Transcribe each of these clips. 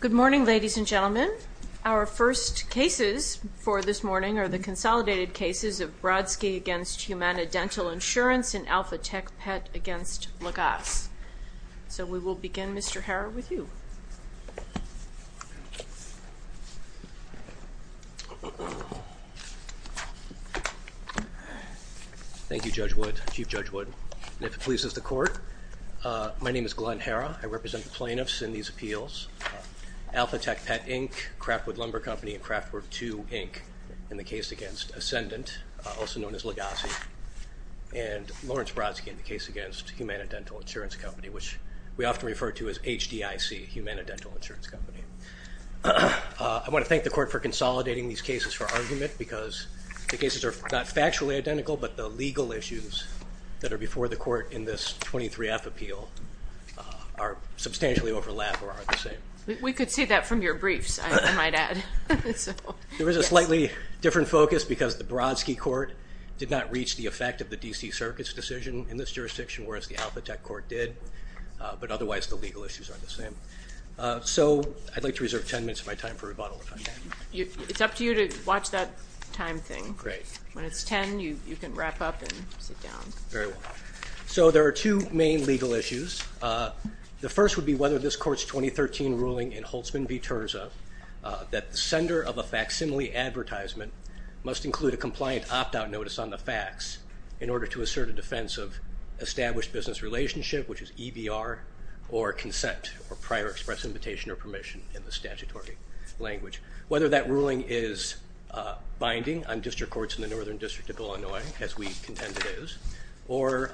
Good morning ladies and gentlemen. Our first cases for this morning are the consolidated cases of Brodsky v. HumanaDental Insurance and Alphatech Pet v. Lagasse. So we will begin Mr. Herra with you. Thank You Judge Wood, Chief Judge Wood, and if it pleases the court, my name is Glenn Herra. I represent the plaintiffs in these appeals. Alphatech Pet Inc., Craftwood Lumber Company, and Craftwood II Inc. in the case against Ascendant, also known as Lagasse, and Lawrence Brodsky in the case against HumanaDental Insurance Company, which we often refer to as HDIC, HumanaDental Insurance Company. I want to thank the court for consolidating these cases for argument because the cases are not factually identical, but the legal issues that are substantially overlapped are the same. We could see that from your briefs I might add. There is a slightly different focus because the Brodsky court did not reach the effect of the DC Circuit's decision in this jurisdiction, whereas the Alphatech court did, but otherwise the legal issues are the same. So I'd like to reserve 10 minutes of my time for rebuttal. It's up to you to watch that time thing. Great. When it's 10 you can wrap up and sit down. Very well. So there are two main legal issues. The first would be whether this court's 2013 ruling in Holtzman v. Terza that the sender of a facsimile advertisement must include a compliant opt-out notice on the fax in order to assert a defense of established business relationship, which is EBR, or consent or prior express invitation or permission in the statutory language. Whether that ruling is binding on district courts in the Northern District of Illinois, as we contend it is, or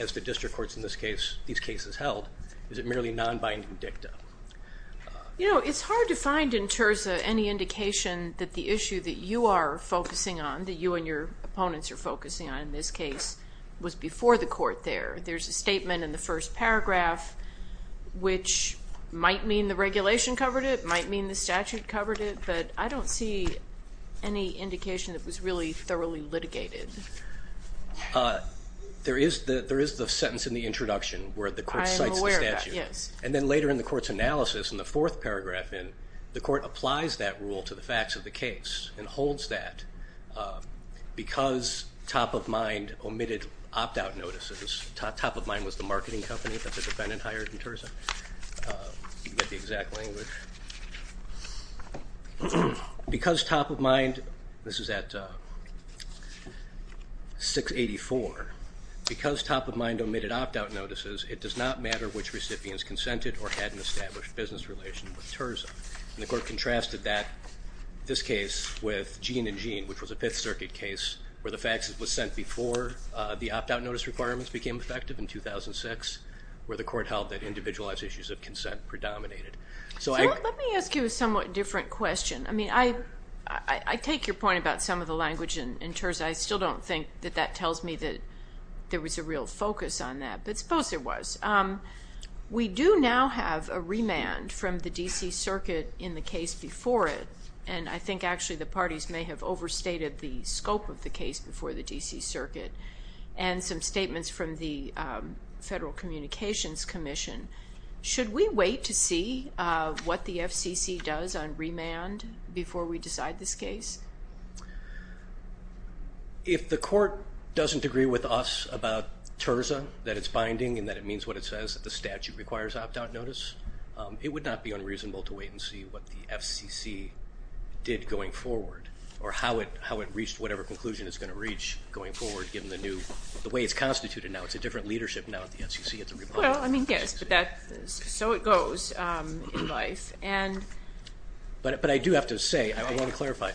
as the district courts in this case, these cases held, is it merely non-binding dicta? You know, it's hard to find in Terza any indication that the issue that you are focusing on, that you and your opponents are focusing on in this case, was before the court there. There's a statement in the first paragraph which might mean the regulation covered it, might mean the statute covered it, but I don't see any indication that was really thoroughly litigated. There is that, there is a sentence in the introduction where the court cites the statute, and then later in the court's analysis in the fourth paragraph in, the court applies that rule to the facts of the case and holds that because Top of Mind omitted opt-out notices, Top of Mind was the marketing company that the defendant hired in Terza, you get the exact it does not matter which recipients consented or had an established business relation with Terza. And the court contrasted that, this case, with Jean and Jean, which was a Fifth Circuit case where the faxes was sent before the opt-out notice requirements became effective in 2006, where the court held that individualized issues of consent predominated. So let me ask you a somewhat different question. I mean, I take your point about some of the language in Terza. I still don't think that that tells me that there was a real focus on that, but suppose there was. We do now have a remand from the D.C. Circuit in the case before it, and I think actually the parties may have overstated the scope of the case before the D.C. Circuit, and some statements from the Federal Communications Commission. Should we wait to see what the FCC does on remand before we decide this case? If the court doesn't agree with us about Terza, that it's binding and that it means what it says, that the statute requires opt-out notice, it would not be unreasonable to wait and see what the FCC did going forward, or how it reached whatever conclusion it's going to reach going forward, given the new, the way it's constituted now. It's a different leadership now at the FCC, it's a republic. Well, I mean, yes, so it goes in life. But I do have to say, I want to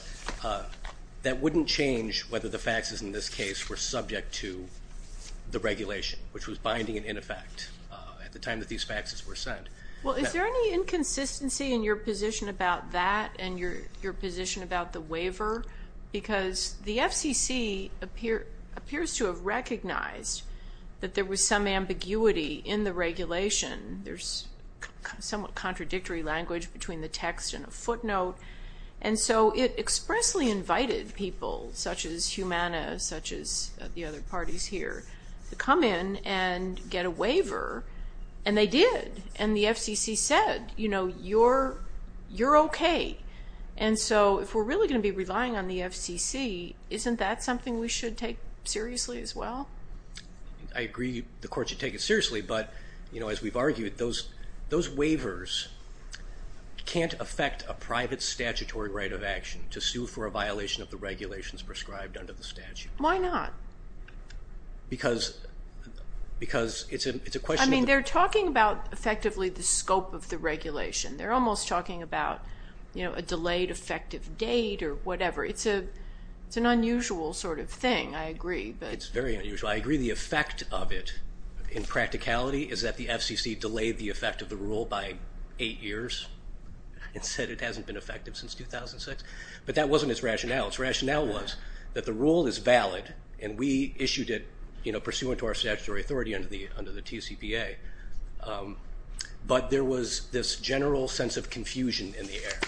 that wouldn't change whether the faxes in this case were subject to the regulation, which was binding and in effect at the time that these faxes were sent. Well, is there any inconsistency in your position about that and your position about the waiver? Because the FCC appears to have recognized that there was some ambiguity in the regulation. There's somewhat invited people, such as Humana, such as the other parties here, to come in and get a waiver, and they did. And the FCC said, you know, you're okay. And so if we're really going to be relying on the FCC, isn't that something we should take seriously as well? I agree the court should take it seriously, but you know, as we've argued, those waivers can't affect a private statutory right of violation of the regulations prescribed under the statute. Why not? Because it's a question... I mean, they're talking about effectively the scope of the regulation. They're almost talking about, you know, a delayed effective date or whatever. It's an unusual sort of thing, I agree. It's very unusual. I agree the effect of it in practicality is that the FCC delayed the effect of the rule by eight years and said it hasn't been effective since 2006. But that wasn't its rationale. Its rationale was that the rule is valid, and we issued it, you know, pursuant to our statutory authority under the TCPA. But there was this general sense of confusion in the air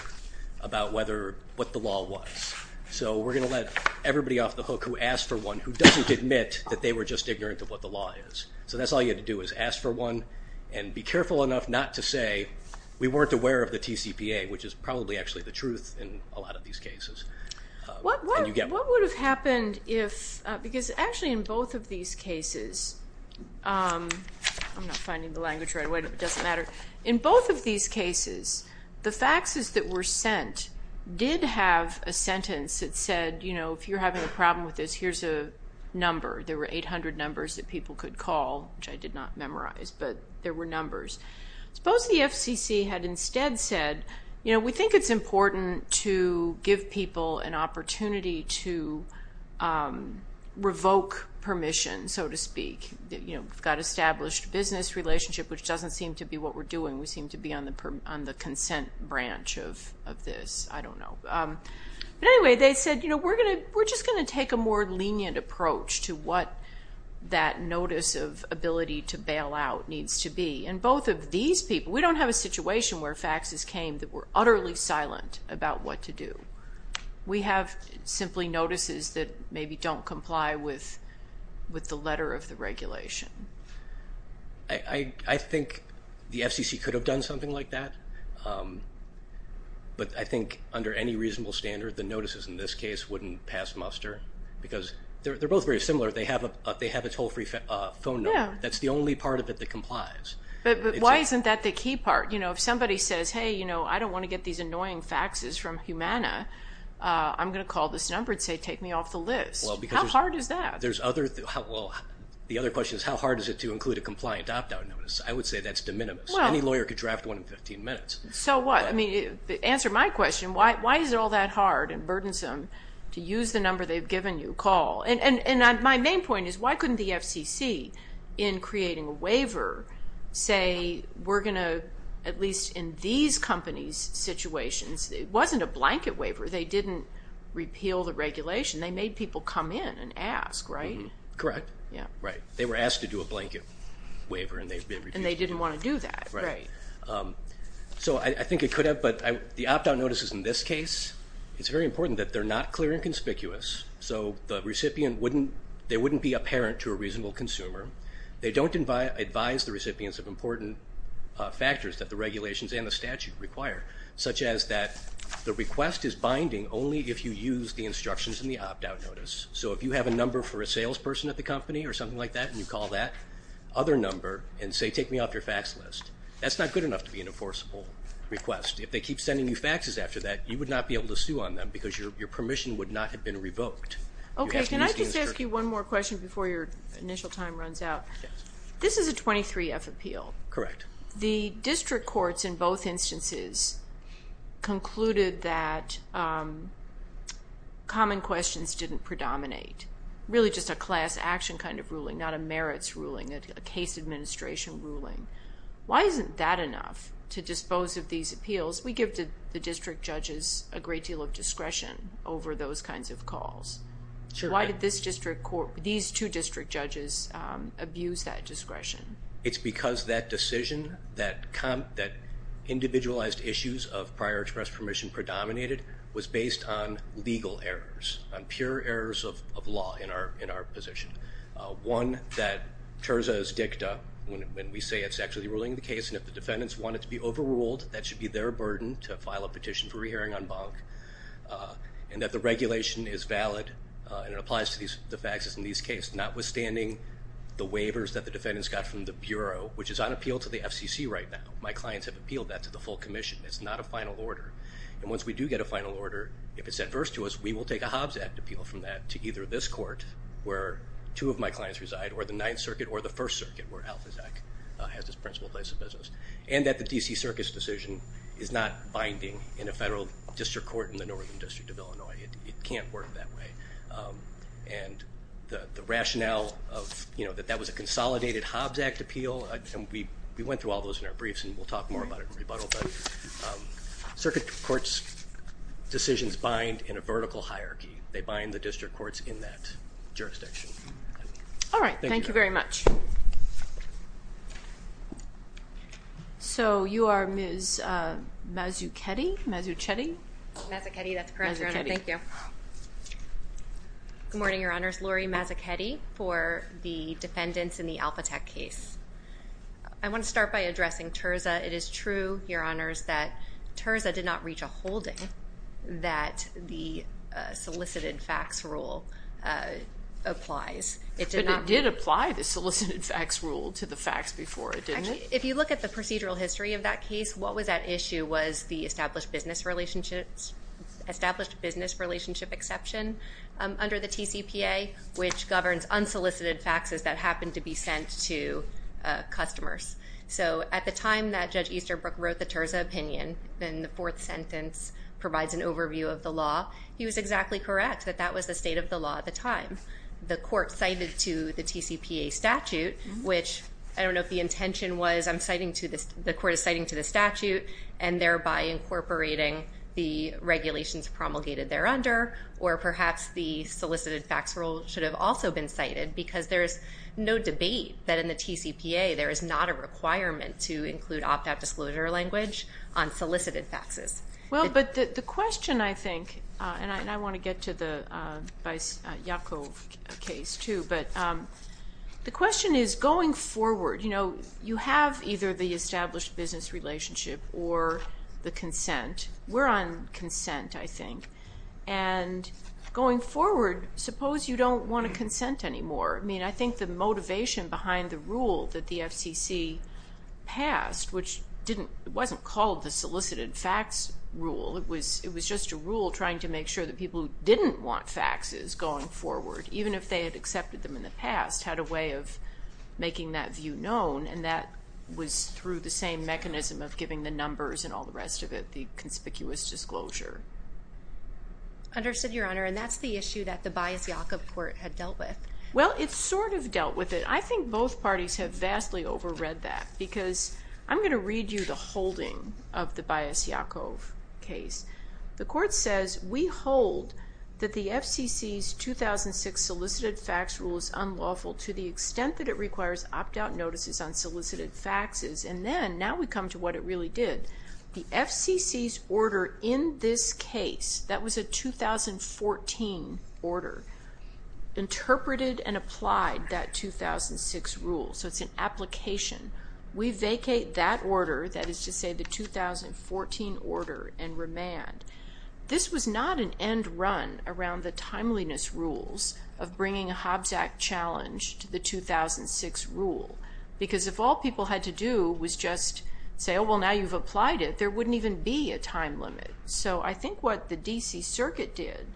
about what the law was. So we're going to let everybody off the hook who asked for one who doesn't admit that they were just ignorant of what the law is. So that's all you had to do, is ask for one and be careful enough not to say we weren't aware of the TCPA, which is probably actually the truth in a lot of these cases. What would have happened if, because actually in both of these cases, I'm not finding the language right away, but it doesn't matter. In both of these cases, the faxes that were sent did have a sentence that said, you know, if you're having a problem with this, here's a number. There were 800 numbers that people could call, which I did not memorize, but there were numbers. Suppose the FCC had instead said, you know, we think it's important to give people an opportunity to revoke permission, so to speak. You know, we've got established business relationship, which doesn't seem to be what we're doing. We seem to be on the consent branch of this. I don't know. But anyway, they said, you know, we're just going to take a more lenient approach to what that notice of these people, we don't have a situation where faxes came that were utterly silent about what to do. We have simply notices that maybe don't comply with with the letter of the regulation. I think the FCC could have done something like that, but I think under any reasonable standard, the notices in this case wouldn't pass muster because they're both very similar. They have a only part of it that complies. But why isn't that the key part? You know, if somebody says, hey, you know, I don't want to get these annoying faxes from Humana, I'm going to call this number and say take me off the list. How hard is that? The other question is, how hard is it to include a compliant opt-out notice? I would say that's de minimis. Any lawyer could draft one in 15 minutes. So what? I mean, answer my question. Why is it all that hard and burdensome to use the number they've given you, call? And my main point is, why couldn't the FCC, in creating a waiver, say we're going to, at least in these companies' situations, it wasn't a blanket waiver. They didn't repeal the regulation. They made people come in and ask, right? Correct. Yeah. Right. They were asked to do a blanket waiver and they didn't want to do that. Right. So I think it could have, but the opt-out notices in this case, it's very important that they're not clear and conspicuous. So the recipient wouldn't, there wouldn't be apparent to a reasonable consumer. They don't advise the recipients of important factors that the regulations and the statute require, such as that the request is binding only if you use the instructions in the opt-out notice. So if you have a number for a salesperson at the company or something like that and you call that other number and say take me off your fax list, that's not good enough to be an enforceable request. If they keep sending you faxes after that, you would not be able to sue on them because your permission would not have been revoked. Okay. Can I just ask you one more question before your initial time runs out? Yes. This is a 23-F appeal. Correct. The district courts in both instances concluded that common questions didn't predominate. Really just a class-action kind of ruling, not a merits ruling, a case administration ruling. Why isn't that enough to dispose of these appeals? We give the district judges a great deal of discretion over those kinds of calls. Why did this district court, these two district judges, abuse that discretion? It's because that decision that individualized issues of prior express permission predominated was based on legal errors, on pure errors of law in our position. One, that tersa is dicta when we say it's actually ruling the case and if the defendants want it to be overruled, that should be their burden to re-hearing en banc, and that the regulation is valid and it applies to the faxes in these cases, notwithstanding the waivers that the defendants got from the Bureau, which is on appeal to the FCC right now. My clients have appealed that to the full Commission. It's not a final order, and once we do get a final order, if it's adverse to us, we will take a Hobbs Act appeal from that to either this court, where two of my clients reside, or the Ninth Circuit, or the First Circuit, where AlphaZac has this principal place of business, and that the DC Circus decision is not binding in a federal district court in the Northern District of Illinois. It can't work that way, and the rationale of, you know, that that was a consolidated Hobbs Act appeal, and we went through all those in our briefs and we'll talk more about it in rebuttal, but circuit courts decisions bind in a vertical hierarchy. They bind the district courts in that jurisdiction. All right, thank you very much. So, you are Ms. Mazzuchetti? Mazzuchetti? Mazzuchetti, that's correct, Your Honor. Thank you. Good morning, Your Honors. Laurie Mazzuchetti for the defendants in the AlphaTec case. I want to start by addressing Terza. It is true, Your Honors, that Terza did not reach a holding that the solicited fax rule applies. It did apply the solicited fax rule to the fax before, didn't it? If you look at the procedural history of that case, what was at issue was the established business relationships, established business relationship exception under the TCPA, which governs unsolicited faxes that happen to be sent to customers. So, at the time that Judge Easterbrook wrote the Terza opinion, and the fourth sentence provides an overview of the law, he was exactly correct that that was the state of the law at the time. The court cited to the TCPA statute, which I don't know if the intention was, I'm citing to this, the court is citing to the statute and thereby incorporating the regulations promulgated there under, or perhaps the solicited fax rule should have also been cited, because there's no debate that in the TCPA there is not a requirement to include opt-out disclosure language on solicited faxes. Well, but the question, I think, and I want to get to the Yakov case too, but the question is going forward, you know, you have either the established business relationship or the consent. We're on consent, I think, and going forward, suppose you don't want to consent anymore. I mean, I think the motivation behind the rule that the FCC passed, which didn't, it wasn't called the solicited fax rule, it was just a rule trying to make sure that people who didn't want faxes going forward, even if they had accepted them in the past, had a way of making that view known, and that was through the same mechanism of giving the numbers and all the rest of it the conspicuous disclosure. Understood, Your Honor, and that's the issue that the Bias-Yakov Court had dealt with. Well, it sort of dealt with it. I think both parties have vastly overread that, because I'm going to read you the holding of the Bias-Yakov case. The court says, we hold that the FCC's 2006 solicited fax rule is unlawful to the extent that it requires opt-out notices on solicited faxes, and then, now we come to what it really did. The FCC's order in this case, that was a 2014 order, interpreted and applied that 2006 rule, so it's an application. We vacate that 2014 order and remand. This was not an end run around the timeliness rules of bringing a Hobbs Act challenge to the 2006 rule, because if all people had to do was just say, oh, well, now you've applied it, there wouldn't even be a time limit. So I think what the D.C. Circuit did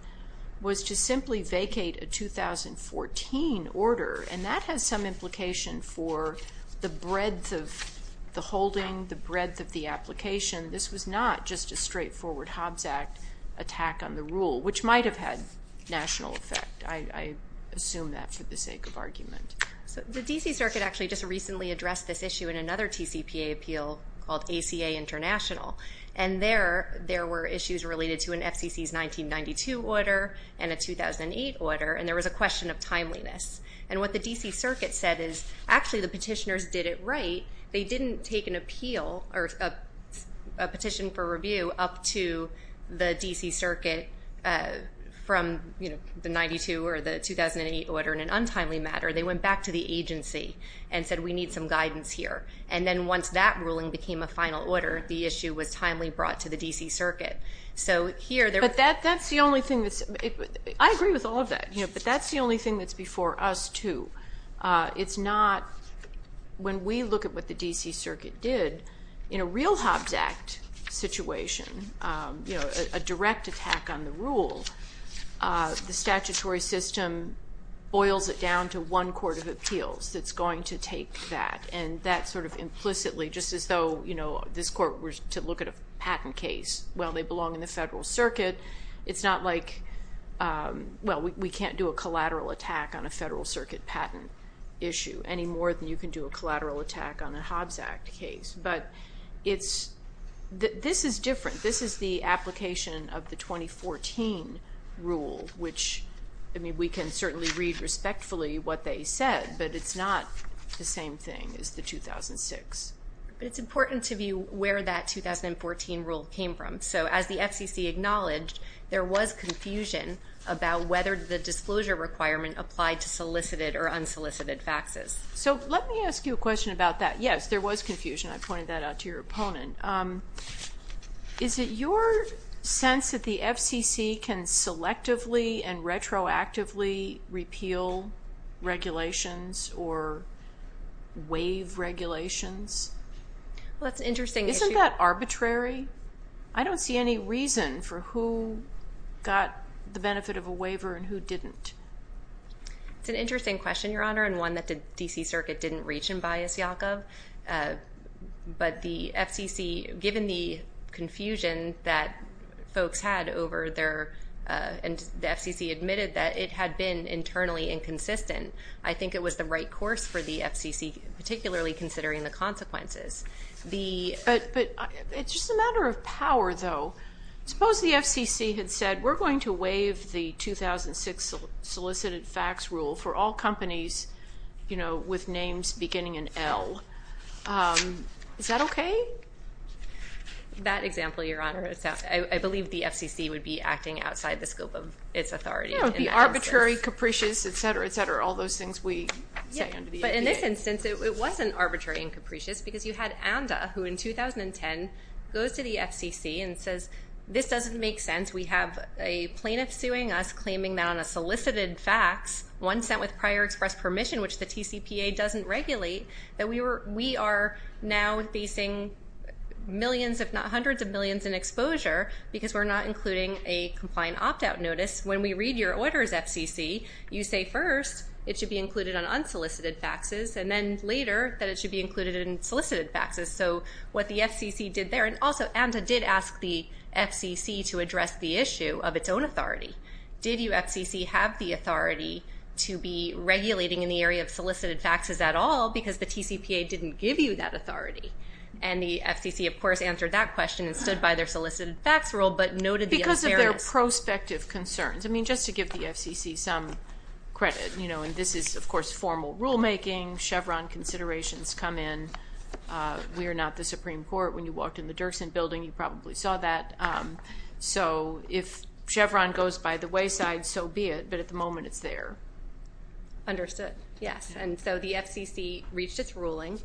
was to simply vacate a 2014 order, and that has some implication for the breadth of the holding, the breadth of the application. This was not just a straightforward Hobbs Act attack on the rule, which might have had national effect. I assume that for the sake of argument. So the D.C. Circuit actually just recently addressed this issue in another TCPA appeal called ACA International, and there were issues related to an FCC's 1992 order and a 2008 order, and there was a question of timeliness. And what the D.C. Circuit said is, actually, the petition for review up to the D.C. Circuit from the 92 or the 2008 order in an untimely matter, they went back to the agency and said, we need some guidance here. And then once that ruling became a final order, the issue was timely brought to the D.C. Circuit. So here... But that's the only thing that's... I agree with all of that, but that's the only thing that's before us, too. It's not... When we look at what the D.C. Circuit did, in a real Hobbs Act situation, a direct attack on the rule, the statutory system boils it down to one court of appeals that's going to take that. And that sort of implicitly, just as though this court were to look at a patent case. Well, they belong in the Federal Circuit. It's not like... Well, we can't do a collateral attack on a Federal Circuit patent issue any more than you can do a collateral attack on a Hobbs Act case. But it's... This is different. This is the application of the 2014 rule, which, I mean, we can certainly read respectfully what they said, but it's not the same thing as the 2006. But it's important to view where that 2014 rule came from. So as the FCC acknowledged, it was a case of implicit or unsolicited faxes. So let me ask you a question about that. Yes, there was confusion. I pointed that out to your opponent. Is it your sense that the FCC can selectively and retroactively repeal regulations or waive regulations? Well, it's an interesting issue. Isn't that arbitrary? I don't see any reason for who got the benefit of a waiver and who didn't. It's an interesting question, Your Honor, and one that the DC Circuit didn't reach in Bias Yaakov. But the FCC, given the confusion that folks had over their... And the FCC admitted that it had been internally inconsistent. I think it was the right course for the FCC, particularly considering the consequences. But it's just a matter of power, though. Suppose the FCC had said, we're going to waive the 2006 solicited fax rule for all companies with names beginning in L. Is that okay? That example, Your Honor, I believe the FCC would be acting outside the scope of its authority. Yeah, it would be arbitrary, capricious, etc., etc., all those things we say under the ADA. But in this instance, it wasn't arbitrary and capricious because you had ANDA, who in 2010 goes to the FCC and says, this doesn't make sense. We have a plaintiff suing us, claiming that on a solicited fax, one sent with prior express permission, which the TCPA doesn't regulate, that we are now facing millions, if not hundreds of millions, in exposure because we're not including a compliant opt out notice. When we read your orders, FCC, you say first, it should be included on unsolicited faxes, and then later, that it should be included in solicited faxes. So what the FCC did there, and also, ANDA did ask the FCC to address the issue of its own authority. Did you, FCC, have the authority to be regulating in the area of solicited faxes at all because the TCPA didn't give you that authority? And the FCC, of course, answered that question and stood by their solicited fax rule, but noted the unfairness. Because of their prospective concerns. Just to give the FCC some credit, and this is, of course, formal rulemaking, Chevron considerations come in. We are not the Supreme Court. When you walked in the Dirksen building, you probably saw that. So if Chevron goes by the wayside, so be it. But at the moment, it's there. Understood. Yes. And so the FCC reached its ruling,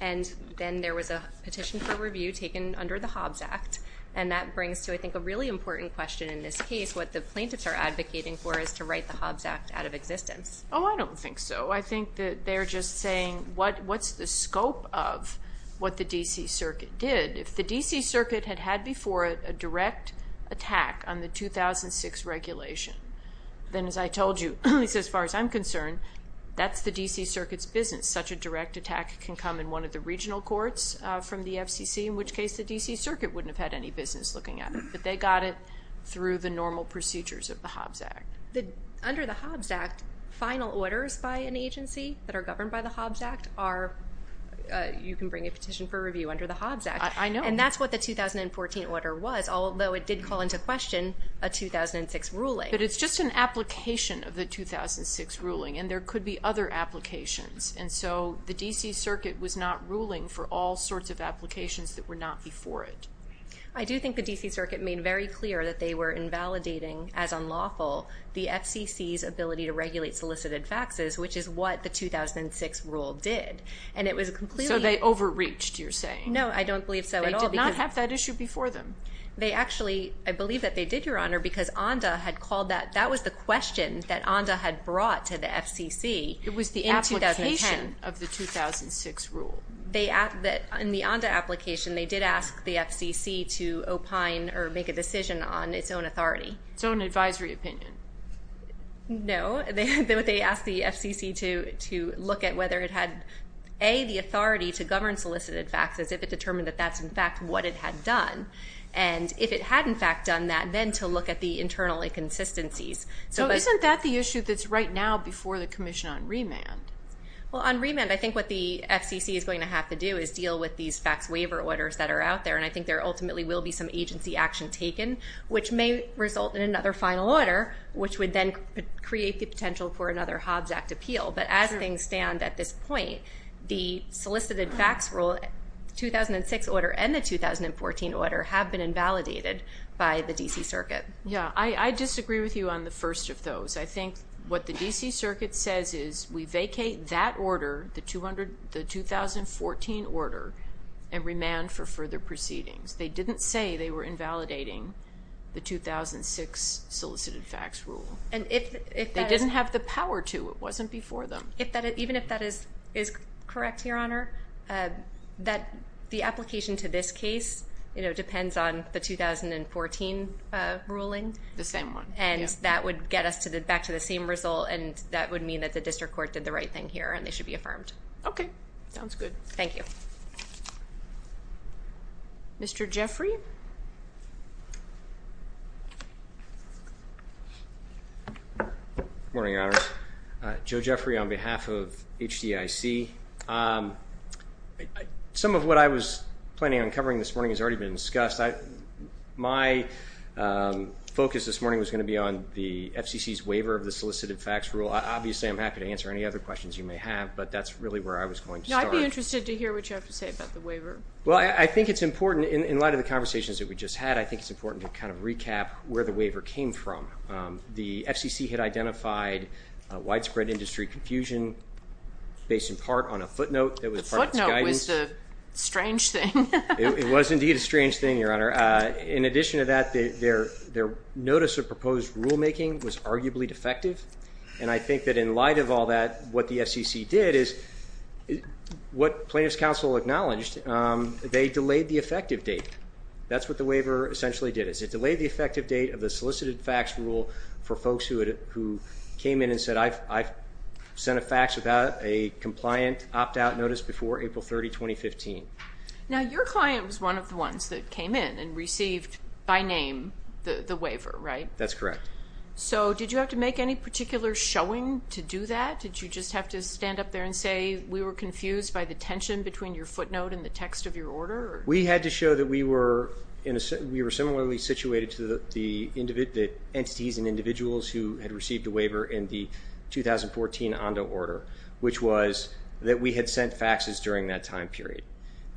and then there was a petition for review taken under the Hobbs Act. And that brings to, I think, a really important question in this case, what the plaintiffs are advocating for is to write the Hobbs Act out of existence. Oh, I don't think so. I think that they're just saying what's the scope of what the DC Circuit did. If the DC Circuit had had before it a direct attack on the 2006 regulation, then as I told you, at least as far as I'm concerned, that's the DC Circuit's business. Such a direct attack can come in one of the regional courts from the FCC, in which case the DC Circuit wouldn't have had any business looking at it. But they got it through the normal procedures of the Hobbs Act. Under the Hobbs Act, final orders by an agency that are governed by the Hobbs Act are... You can bring a petition for review under the Hobbs Act. I know. And that's what the 2014 order was, although it did call into question a 2006 ruling. But it's just an application of the 2006 ruling, and there could be other applications. And so the DC Circuit was not ruling for all sorts of applications that were not before it. I do think the DC Circuit made very clear that they were invalidating, as unlawful, the FCC's ability to regulate solicited faxes, which is what the 2006 rule did. And it was a completely... So they overreached, you're saying? No, I don't believe so at all. They did not have that issue before them. They actually... I believe that they did, Your Honor, because ONDA had called that... That was the question that ONDA had brought to the FCC. It was the application of the 2006 rule. They... In the ONDA application, they did ask the FCC to opine or make a decision on its own authority. Its own advisory opinion? No. They asked the FCC to look at whether it had, A, the authority to govern solicited faxes, if it determined that that's, in fact, what it had done. And if it had, in fact, done that, then to look at the internal inconsistencies. So isn't that the issue that's right now before the commission on remand? Well, on remand, I think what the FCC is going to have to do is deal with these fax waiver orders that are out there. And I think there ultimately will be some agency action taken, which may result in another final order, which would then create the potential for another Hobbs Act appeal. But as things stand at this point, the solicited fax rule, 2006 order and the 2014 order, have been invalidated by the DC Circuit. Yeah. I disagree with you on the first of the 2014 order and remand for further proceedings. They didn't say they were invalidating the 2006 solicited fax rule. And if that... They didn't have the power to. It wasn't before them. Even if that is correct, Your Honor, the application to this case depends on the 2014 ruling. The same one, yeah. And that would get us back to the same result, and that would mean that the district court did the right thing here, and they should be affirmed. Okay. Sounds good. Thank you. Mr. Jeffrey. Morning, Your Honor. Joe Jeffrey on behalf of HDIC. Some of what I was planning on covering this morning has already been discussed. My focus this morning was gonna be on the FCC's waiver of the solicited fax rule. Obviously, I'm happy to answer any other questions you may have, but that's really where I was going to start. No, I'd be interested to hear what you have to say about the waiver. Well, I think it's important, in light of the conversations that we just had, I think it's important to kind of recap where the waiver came from. The FCC had identified widespread industry confusion based in part on a footnote that was part of its guidance. The footnote was the strange thing. It was indeed a strange thing, Your Honor. In addition to that, their notice of proposed rulemaking was arguably defective. And I think that in light of all that, what the FCC did is what plaintiff's counsel acknowledged, they delayed the effective date. That's what the waiver essentially did, is it delayed the effective date of the solicited fax rule for folks who came in and said, I've sent a fax without a compliant opt out notice before April 30, 2015. Now, your client was one of the ones that came in and received, by name, the waiver, right? That's correct. So did you have to make any particular showing to do that? Did you just have to stand up there and say, we were confused by the tension between your footnote and the text of your order? We had to show that we were similarly situated to the entities and individuals who had received a waiver in the 2014 ONDO order, which was that we had sent faxes during that time period.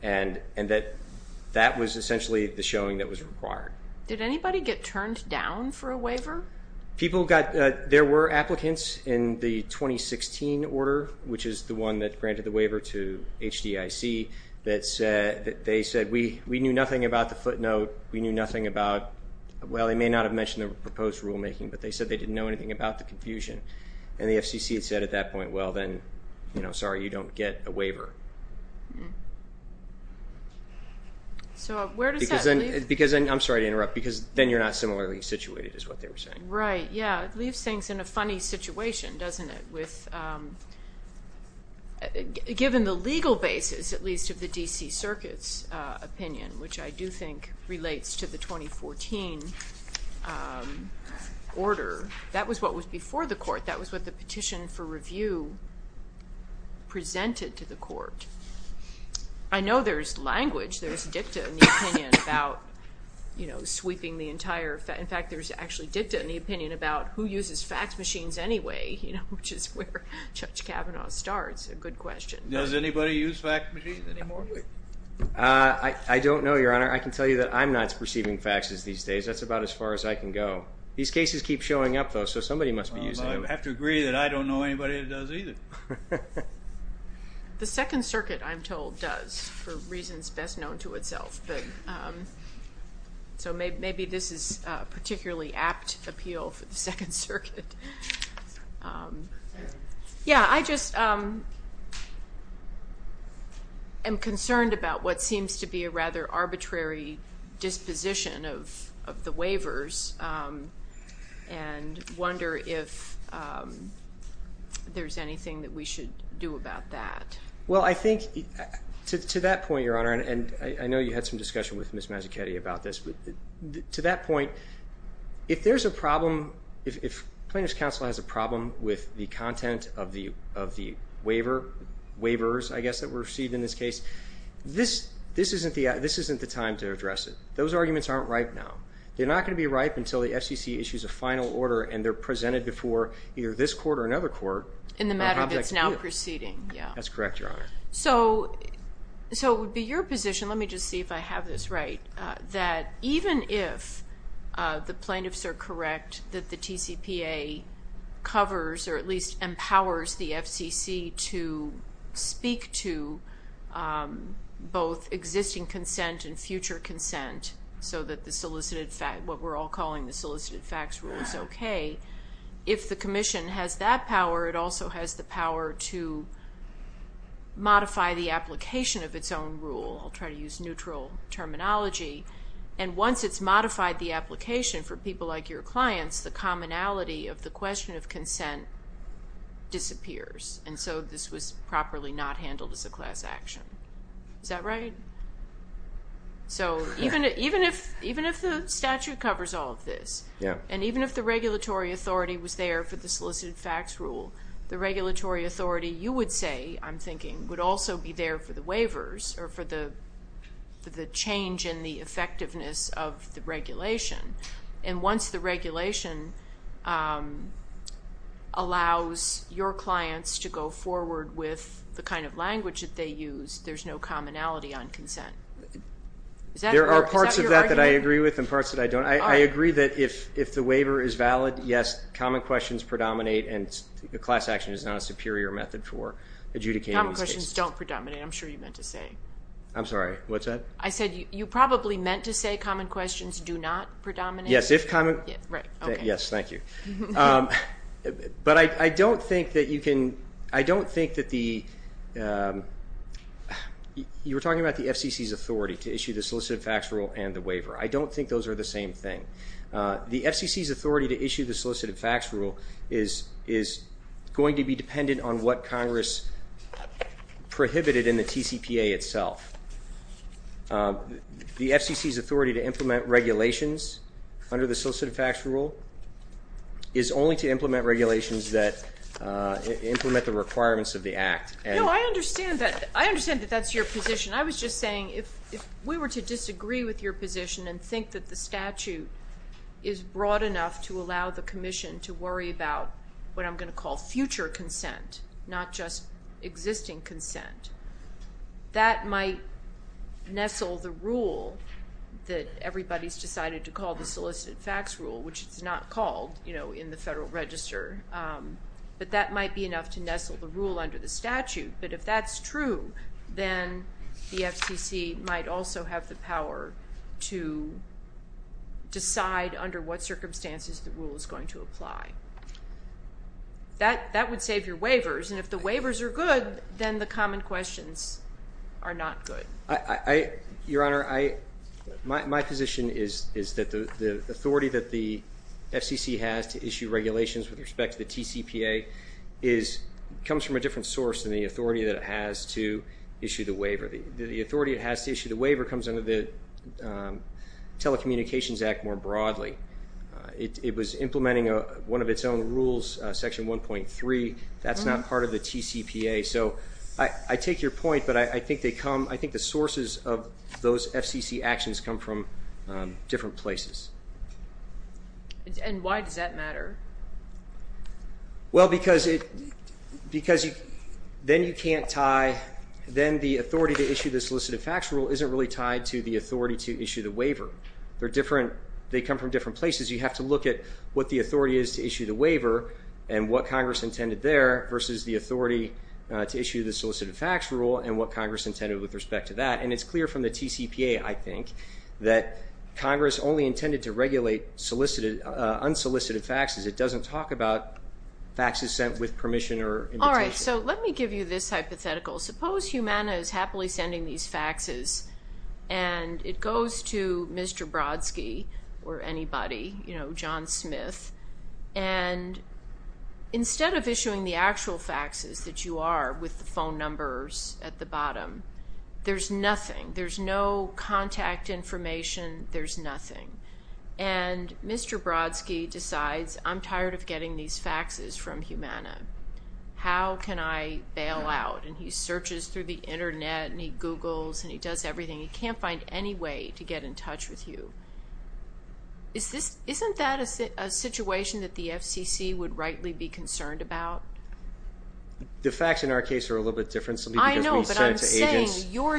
And that was essentially the showing that was required. Did anybody get turned down for a waiver? People got, there were applicants in the 2016 order, which is the one that granted the waiver to HDIC, that said, they said, we knew nothing about the footnote, we knew nothing about, well, they may not have mentioned the proposed rulemaking, but they said they didn't know anything about the confusion. And the FCC had said at that point, well, then, sorry, you don't get a waiver. So where does that leave? Because, and I'm sorry to interrupt, because then you're not similarly situated, is what they were saying. Right, yeah. It leaves things in a funny situation, doesn't it? With... Given the legal basis, at least, of the DC Circuit's opinion, which I do think relates to the 2014 order, that was what was before the court, that was what the petition for review presented to the court. I know there's language, there's dicta in the opinion about sweeping the entire... In fact, there's actually dicta in the opinion about who uses fax machines anyway, which is where Judge Kavanaugh starts, a good question. Does anybody use fax machines anymore? I don't know, Your Honor. I can tell you that I'm not perceiving faxes these days. That's about as far as I can go. These cases keep showing up, though, so somebody must be using them. I have to agree that I don't know anybody that does either. The Second Circuit, I'm told, does, for reasons best known to itself. But... So maybe this is a particularly apt appeal for the Second Circuit. Yeah, I just am concerned about what seems to be a rather arbitrary disposition of the waivers, and wonder if there's anything that we should do about that. Well, I think, to that point, Your Honor, and I know you had some discussion with Ms. Mazzuchetti about this, but to that point, if there's a problem, if plaintiff's counsel has a problem with the content of the waiver, waivers, I guess, that were received in this case, this isn't the time to address it. Those arguments aren't ripe now. They're not gonna be ripe until the FCC issues a final order, and they're presented before either this court or another court. In the proceeding, yeah. That's correct, Your Honor. So it would be your position, let me just see if I have this right, that even if the plaintiffs are correct that the TCPA covers, or at least empowers, the FCC to speak to both existing consent and future consent, so that the solicited fact, what we're all calling the solicited facts rule is okay. If the commission has that power, it also has the power to modify the application of its own rule. I'll try to use neutral terminology. And once it's modified the application for people like your clients, the commonality of the question of consent disappears, and so this was properly not handled as a class action. Is that right? So even if the statute covers all of this, and even if the regulatory authority was there for the solicited facts rule, the regulatory authority, you would say, I'm thinking, would also be there for the waivers, or for the change in the effectiveness of the regulation. And once the regulation allows your clients to go forward with the kind of language that they use, there's no commonality on consent. Is that your argument? There are parts of that that I agree with, and parts that I don't. I agree that if the waiver is valid, yes, common questions predominate, and the class action is not a superior method for adjudicating these cases. Common questions don't predominate, I'm sure you meant to say. I'm sorry, what's that? I said you probably meant to say common questions do not predominate. Yes, if common... Right, okay. Yes, thank you. But I don't think that you can... I don't think that the... You were talking about the FCC's authority to issue the solicited facts rule and the waiver. I don't think those are the same thing. The FCC's authority to issue the solicited facts rule is going to be dependent on what Congress prohibited in the TCPA itself. The FCC's authority to implement regulations under the solicited facts rule is only to implement regulations that implement the requirements of the Act. No, I understand that. I understand that that's your position. I was just saying, if we were to disagree with your position and think that the statute is broad enough to allow the Commission to worry about what I'm going to call future consent, not just existing consent, that might nestle the rule that everybody's decided to call the solicited facts rule, which it's not called in the Federal Register. But that might be enough to nestle the rule under the statute. But if that's true, then the FCC might also have the power to decide under what circumstances the rule is going to apply. That would save your waivers. And if the waivers are good, then the common questions are not good. Your Honor, my position is that the authority that the FCC has to issue regulations with respect to the TCPA comes from a different source than the authority that it has to issue the waiver. The authority it has to issue the waiver comes under the Telecommunications Act more broadly. It was implementing one of its own rules, Section 1.3. That's not part of the TCPA. So I take your point, but I think the sources of those FCC actions come from different places. And why does that matter? Well, because then the authority to issue the solicited facts rule isn't really tied to the authority to issue the waiver. They're different. They come from different places. You have to look at what the authority is to issue the waiver and what Congress intended there versus the authority to issue the solicited facts rule and what Congress intended with respect to that. And it's clear from the TCPA, I think, that Congress only intended to regulate unsolicited facts because it doesn't talk about facts sent with permission or invitation. All right. So let me give you this hypothetical. Suppose Humana is happily sending these faxes and it goes to Mr. Brodsky or anybody, you know, John Smith. And instead of issuing the actual faxes that you are with the phone numbers at the bottom, there's nothing, there's no contact information, there's nothing. And Mr. Brodsky decides, I'm tired of getting these faxes from Humana. How can I bail out? And he searches through the internet and he Googles and he does everything. He can't find any way to get in touch with you. Isn't that a situation that the FCC would rightly be concerned about? The facts in our case are a little bit different. I understand, Your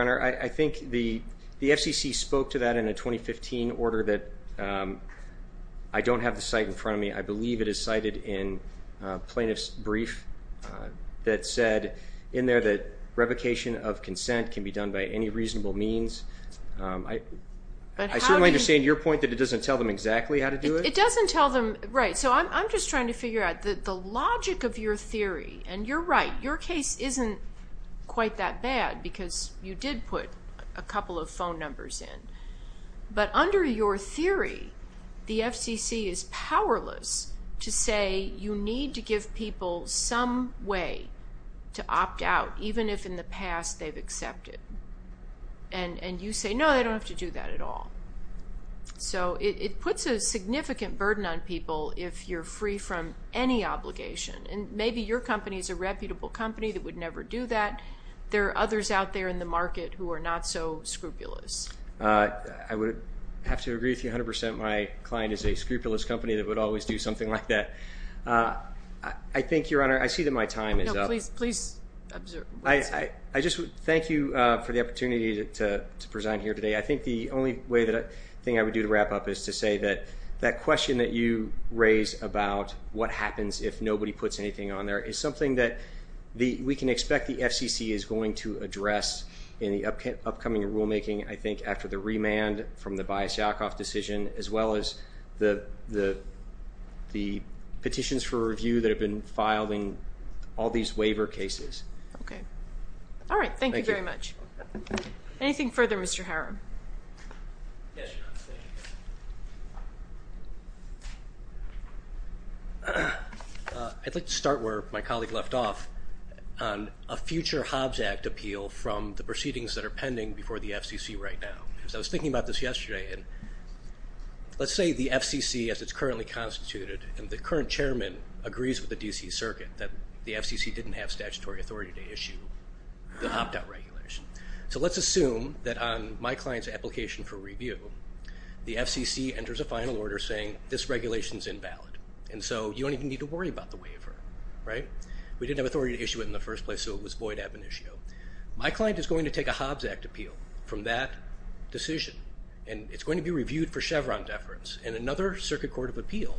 Honor. I think the FCC spoke to that in a 2015 order that I don't have the site in front of me. I believe it is cited in plaintiff's brief that said in there that revocation of consent can be done by any reasonable means. I certainly understand your point that it doesn't tell them exactly how to do it. It doesn't tell them, right. So I'm just trying to figure out the logic of your theory. And you're right. Your case isn't quite that bad because you did put a couple of phone numbers in. But under your theory, the FCC is powerless to say you need to give people some way to opt out, even if in the past they've accepted. And you say, no, they don't have to do that at all. So it puts a significant burden on people if you're free from any obligation. And maybe your company is a reputable company that would never do that. There are others out there in the market who are not so scrupulous. I would have to agree with you 100%. My client is a scrupulous company that would always do something like that. I think, Your Honor, I see that my time is up. No, please, please observe. I just would thank you for the opportunity to present here today. I think the only thing I would do to wrap up is to say that that question that you raised about what happens if nobody puts anything on there is something that we can expect the FCC is going to address in the upcoming rulemaking, I think, after the remand from the Bias Yakov decision, as well as the petitions for review that have been filed in all these waiver cases. Okay. All right. Thank you very much. Anything further, Mr. Haram? Yes, Your Honor. Thank you. I'd like to start where my colleague left off, on a future Hobbs Act appeal from the proceedings that are pending before the FCC right now. Because I was thinking about this yesterday, and let's say the FCC, as it's currently constituted, and the current chairman agrees with the D.C. Circuit that the FCC didn't have statutory authority to issue the opt-out regulation. So let's assume that on my client's application for review, the FCC enters a final order saying this regulation is invalid, and so you don't even need to worry about the waiver, right? We didn't have authority to issue it in the first place, so it was void ad venitio. My client is going to take a Hobbs Act appeal from that decision, and it's going to be reviewed for Chevron deference, and another Circuit Court of Appeal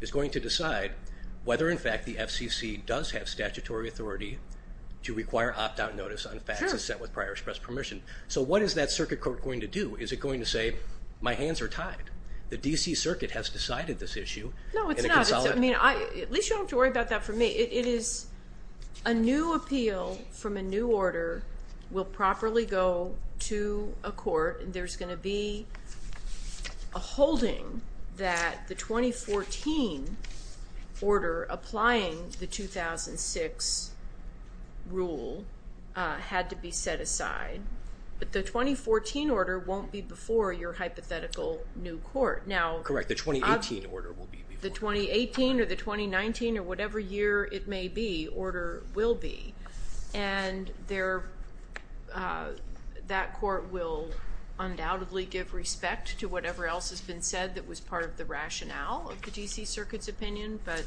is going to decide whether, in fact, the FCC does have statutory authority to require opt-out notice on facts that's set with prior express permission. So what is that Circuit Court going to do? Is it going to say, my hands are tied? The D.C. Circuit has decided this issue, and it can solve it? No, it's not. At least you don't have to worry about that for me. It is a new appeal from a new order will properly go to a court, and there's going to be a holding that the 2014 order applying the 2006 rule had to be set aside, but the 2014 order won't be before your hypothetical new court. Now- Correct. The 2018 order will be before- The 2018 or the 2019 or whatever year it may be, order will be, and that court will undoubtedly give respect to whatever else has been said that was part of the rationale of the D.C. Circuit's opinion, but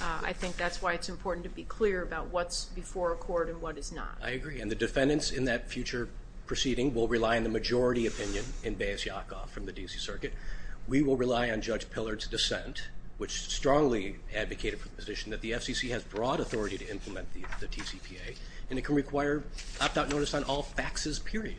I think that's why it's important to be clear about what's before a court and what is not. I agree, and the defendants in that future proceeding will rely on the majority opinion in Bayes-Yakoff from the D.C. Circuit. We will rely on Judge Pillard's dissent, which strongly advocated for the position that the FCC has broad authority to implement the TCPA, and it can require opt-out notice on all faxes, period.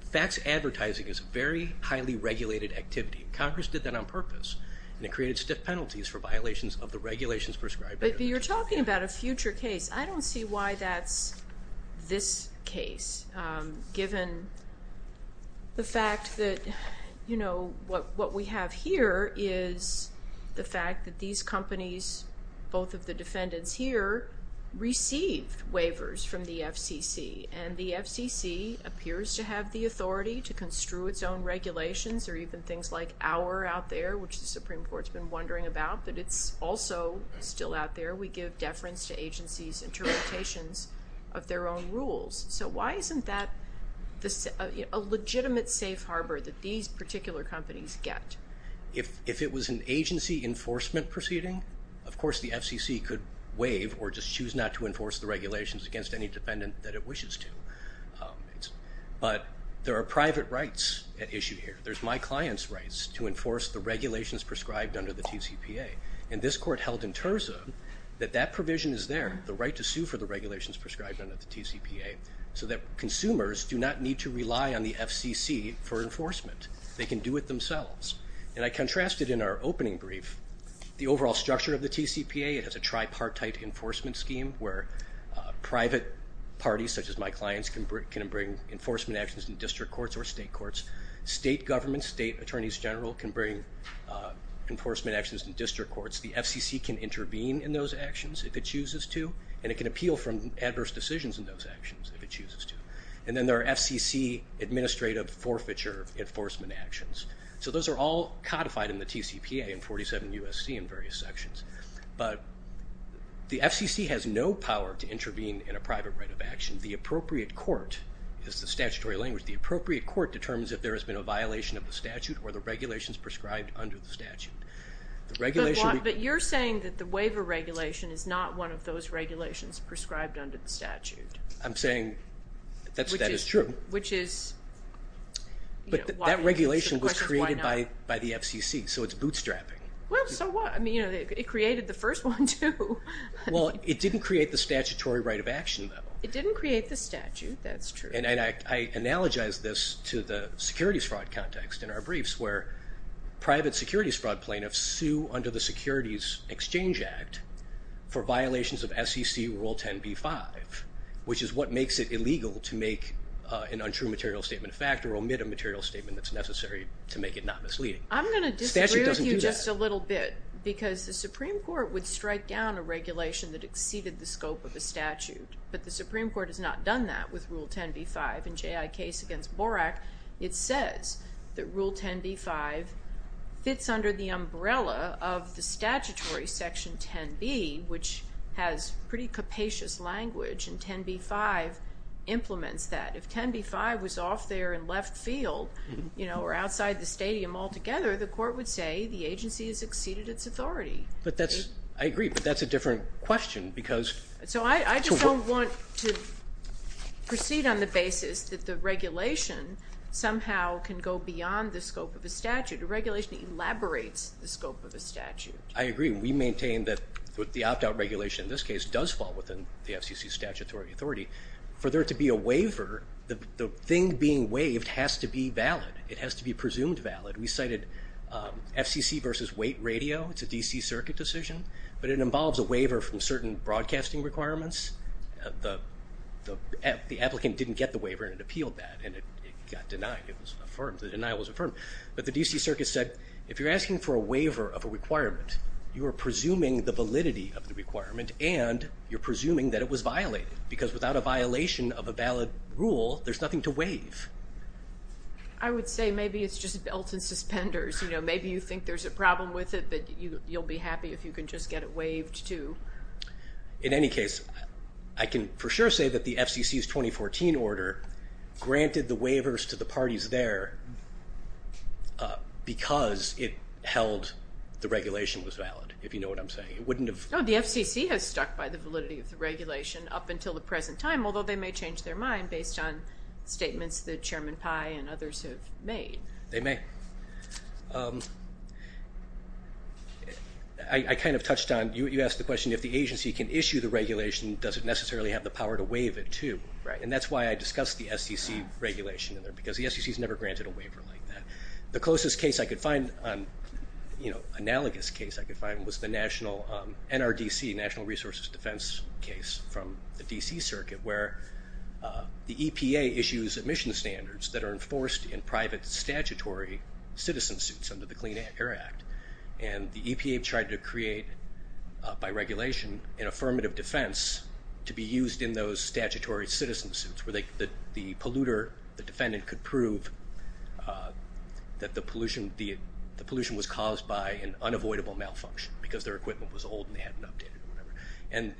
Fax advertising is a very highly regulated activity. Congress did that on purpose, and it created stiff penalties for violations of the regulations prescribed. But you're talking about a future case. I don't see why that's this case, given the fact that what we have here is the fact that these companies, both of the defendants here, received waivers from the FCC, and the FCC appears to have the authority to construe its own regulations, or even things like our out there, which the Supreme Court's been wondering about, but it's also still out there. We give deference to agencies' interpretations of their own rules. So why isn't that a legitimate safe harbor that these particular companies get? If it was an agency enforcement proceeding, of course the FCC could waive or just choose not to enforce the regulations against any defendant that it wishes to. But there are private rights at issue here. There's my client's rights to enforce the regulations prescribed under the TCPA. And this court held in terza that that provision is there, the right to sue for the regulations prescribed under the TCPA, so that consumers do not need to rely on the FCC for enforcement. They can do it themselves. And I contrasted in our opening brief the overall structure of the TCPA. It has a tripartite enforcement scheme where private parties, such as my clients, can bring enforcement actions in district courts or state courts. State governments, state attorneys general can bring enforcement actions in district courts. The FCC can intervene in those actions if it chooses to, and it can appeal from adverse decisions in those actions if it chooses to. And then there are FCC administrative forfeiture enforcement actions. So those are all codified in the TCPA and 47 U.S.C. in various sections. But the FCC has no power to intervene in a private right of action. The appropriate court is the statutory language. The appropriate court determines if there has been a violation of the statute or the regulations prescribed under the statute. The regulation... But you're saying that the waiver regulation is not one of those regulations prescribed under the statute. I'm saying that is true. Which is... But that regulation was created by the FCC, so it's bootstrapping. Well, so what? I mean, you know, it created the first one, too. Well, it didn't create the statutory right of action, though. It didn't create the statute. That's true. And I analogize this to the securities fraud context in our briefs, where private securities fraud plaintiffs sue under the Securities Exchange Act for violations of SEC Rule 10b-5, which is what makes it illegal to make an untrue material statement of fact or omit a material statement that's necessary to make it not misleading. I'm going to disagree with you just a little bit. Because the Supreme Court would strike down a regulation that exceeded the scope of the statute. But the Supreme Court has not done that with Rule 10b-5. In J.I. Case against Borak, it says that Rule 10b-5 fits under the umbrella of the statutory Section 10b, which has pretty capacious language. And 10b-5 implements that. If 10b-5 was off there in left field, you know, or outside the stadium altogether, the court would say the agency has exceeded its authority. But that's, I agree, but that's a different question, because. So I just don't want to proceed on the basis that the regulation somehow can go beyond the scope of a statute. A regulation elaborates the scope of a statute. I agree. We maintain that the opt-out regulation in this case does fall within the FCC's statutory authority. For there to be a waiver, the thing being waived has to be valid. It has to be presumed valid. We cited FCC versus Waite Radio. It's a D.C. Circuit decision, but it involves a waiver from certain broadcasting requirements. The applicant didn't get the waiver, and it appealed that, and it got denied. It was affirmed. The denial was affirmed. But the D.C. Circuit said, if you're asking for a waiver of a requirement, you are presuming the validity of the requirement, and you're presuming that it was violated. Because without a violation of a valid rule, there's nothing to waive. I would say maybe it's just belt and suspenders. You know, maybe you think there's a problem with it, but you'll be happy if you can just get it waived, too. In any case, I can for sure say that the FCC's 2014 order granted the waivers to the parties there because it held the regulation was valid, if you know what I'm saying. It wouldn't have... No, the FCC has stuck by the validity of the regulation up until the present time, although they may change their mind based on statements that Chairman Pai and others have made. They may. I kind of touched on, you asked the question, if the agency can issue the regulation, does it necessarily have the power to waive it, too, right? And that's why I discussed the SEC regulation in there, because the SEC's never granted a waiver like that. The closest case I could find, you know, analogous case I could find, was the NRDC, National Resources Defense case from the D.C. Circuit, where the EPA issues admission standards that are enforced in private statutory citizen suits under the Clean Air Act. And the EPA tried to create, by regulation, an affirmative defense to be used in those statutory citizen suits where the polluter, the defendant, could prove that the pollution was caused by an unavoidable malfunction because their equipment was old and they hadn't updated it or whatever. And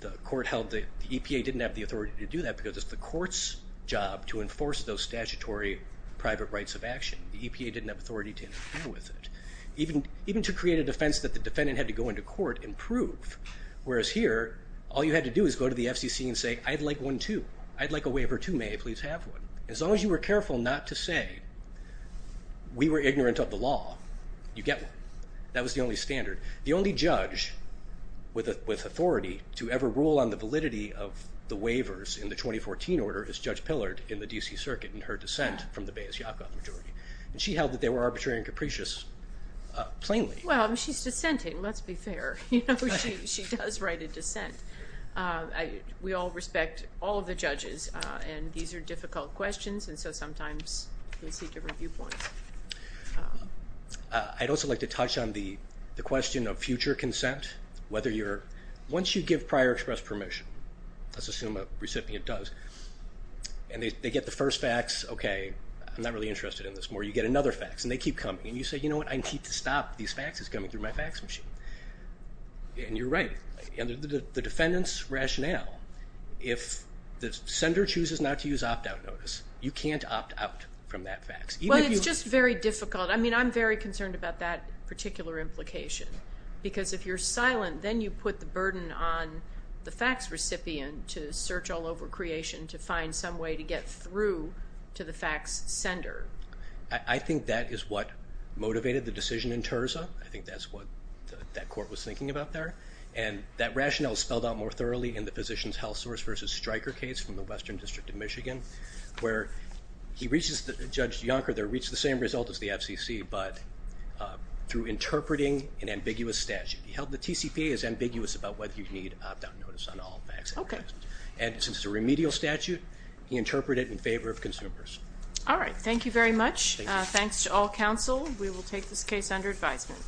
the court held the EPA didn't have the authority to do that because it's the court's job to enforce those statutory private rights of action. The EPA didn't have authority to interfere with it, even to create a defense that the defendant had to go into court and prove, whereas here, all you had to do is go to the FCC and say, I'd like one, too. I'd like a waiver, too. May I please have one? As long as you were careful not to say, we were ignorant of the law, you get one. That was the only standard. The only judge with authority to ever rule on the validity of the waivers in the 2014 order is Judge Pillard in the D.C. Circuit in her dissent from the Bayes-Yakoff majority. And she held that they were arbitrary and capricious, plainly. Well, she's dissenting, let's be fair. You know, she does write a dissent. We all respect all of the judges, and these are difficult questions, and so sometimes you'll see different viewpoints. I'd also like to touch on the question of future consent, whether you're, once you give prior express permission, let's assume a recipient does, and they get the first fax, okay, I'm not really interested in this more. You get another fax, and they keep coming, and you say, you know what, I need to stop these faxes coming through my fax machine. And you're right, and the defendant's rationale, if the sender chooses not to use opt-out notice, you can't opt out from that fax. Well, it's just very difficult. I mean, I'm very concerned about that particular implication, because if you're silent, then you put the burden on the fax recipient to search all over creation to find some way to get through to the fax sender. I think that is what motivated the decision in Terza. I think that's what that court was thinking about there, and that rationale is spelled out more thoroughly in the physician's health source versus striker case from the Western District of Michigan, where he reaches, Judge Yonker there, reached the same result as the FCC, but through interpreting an ambiguous statute. He held the TCPA as ambiguous about whether you need opt-out notice on all fax applications, and since it's a remedial statute, he interpreted it in favor of consumers. All right. Thank you very much. Thanks to all counsel. We will take this case under advisement.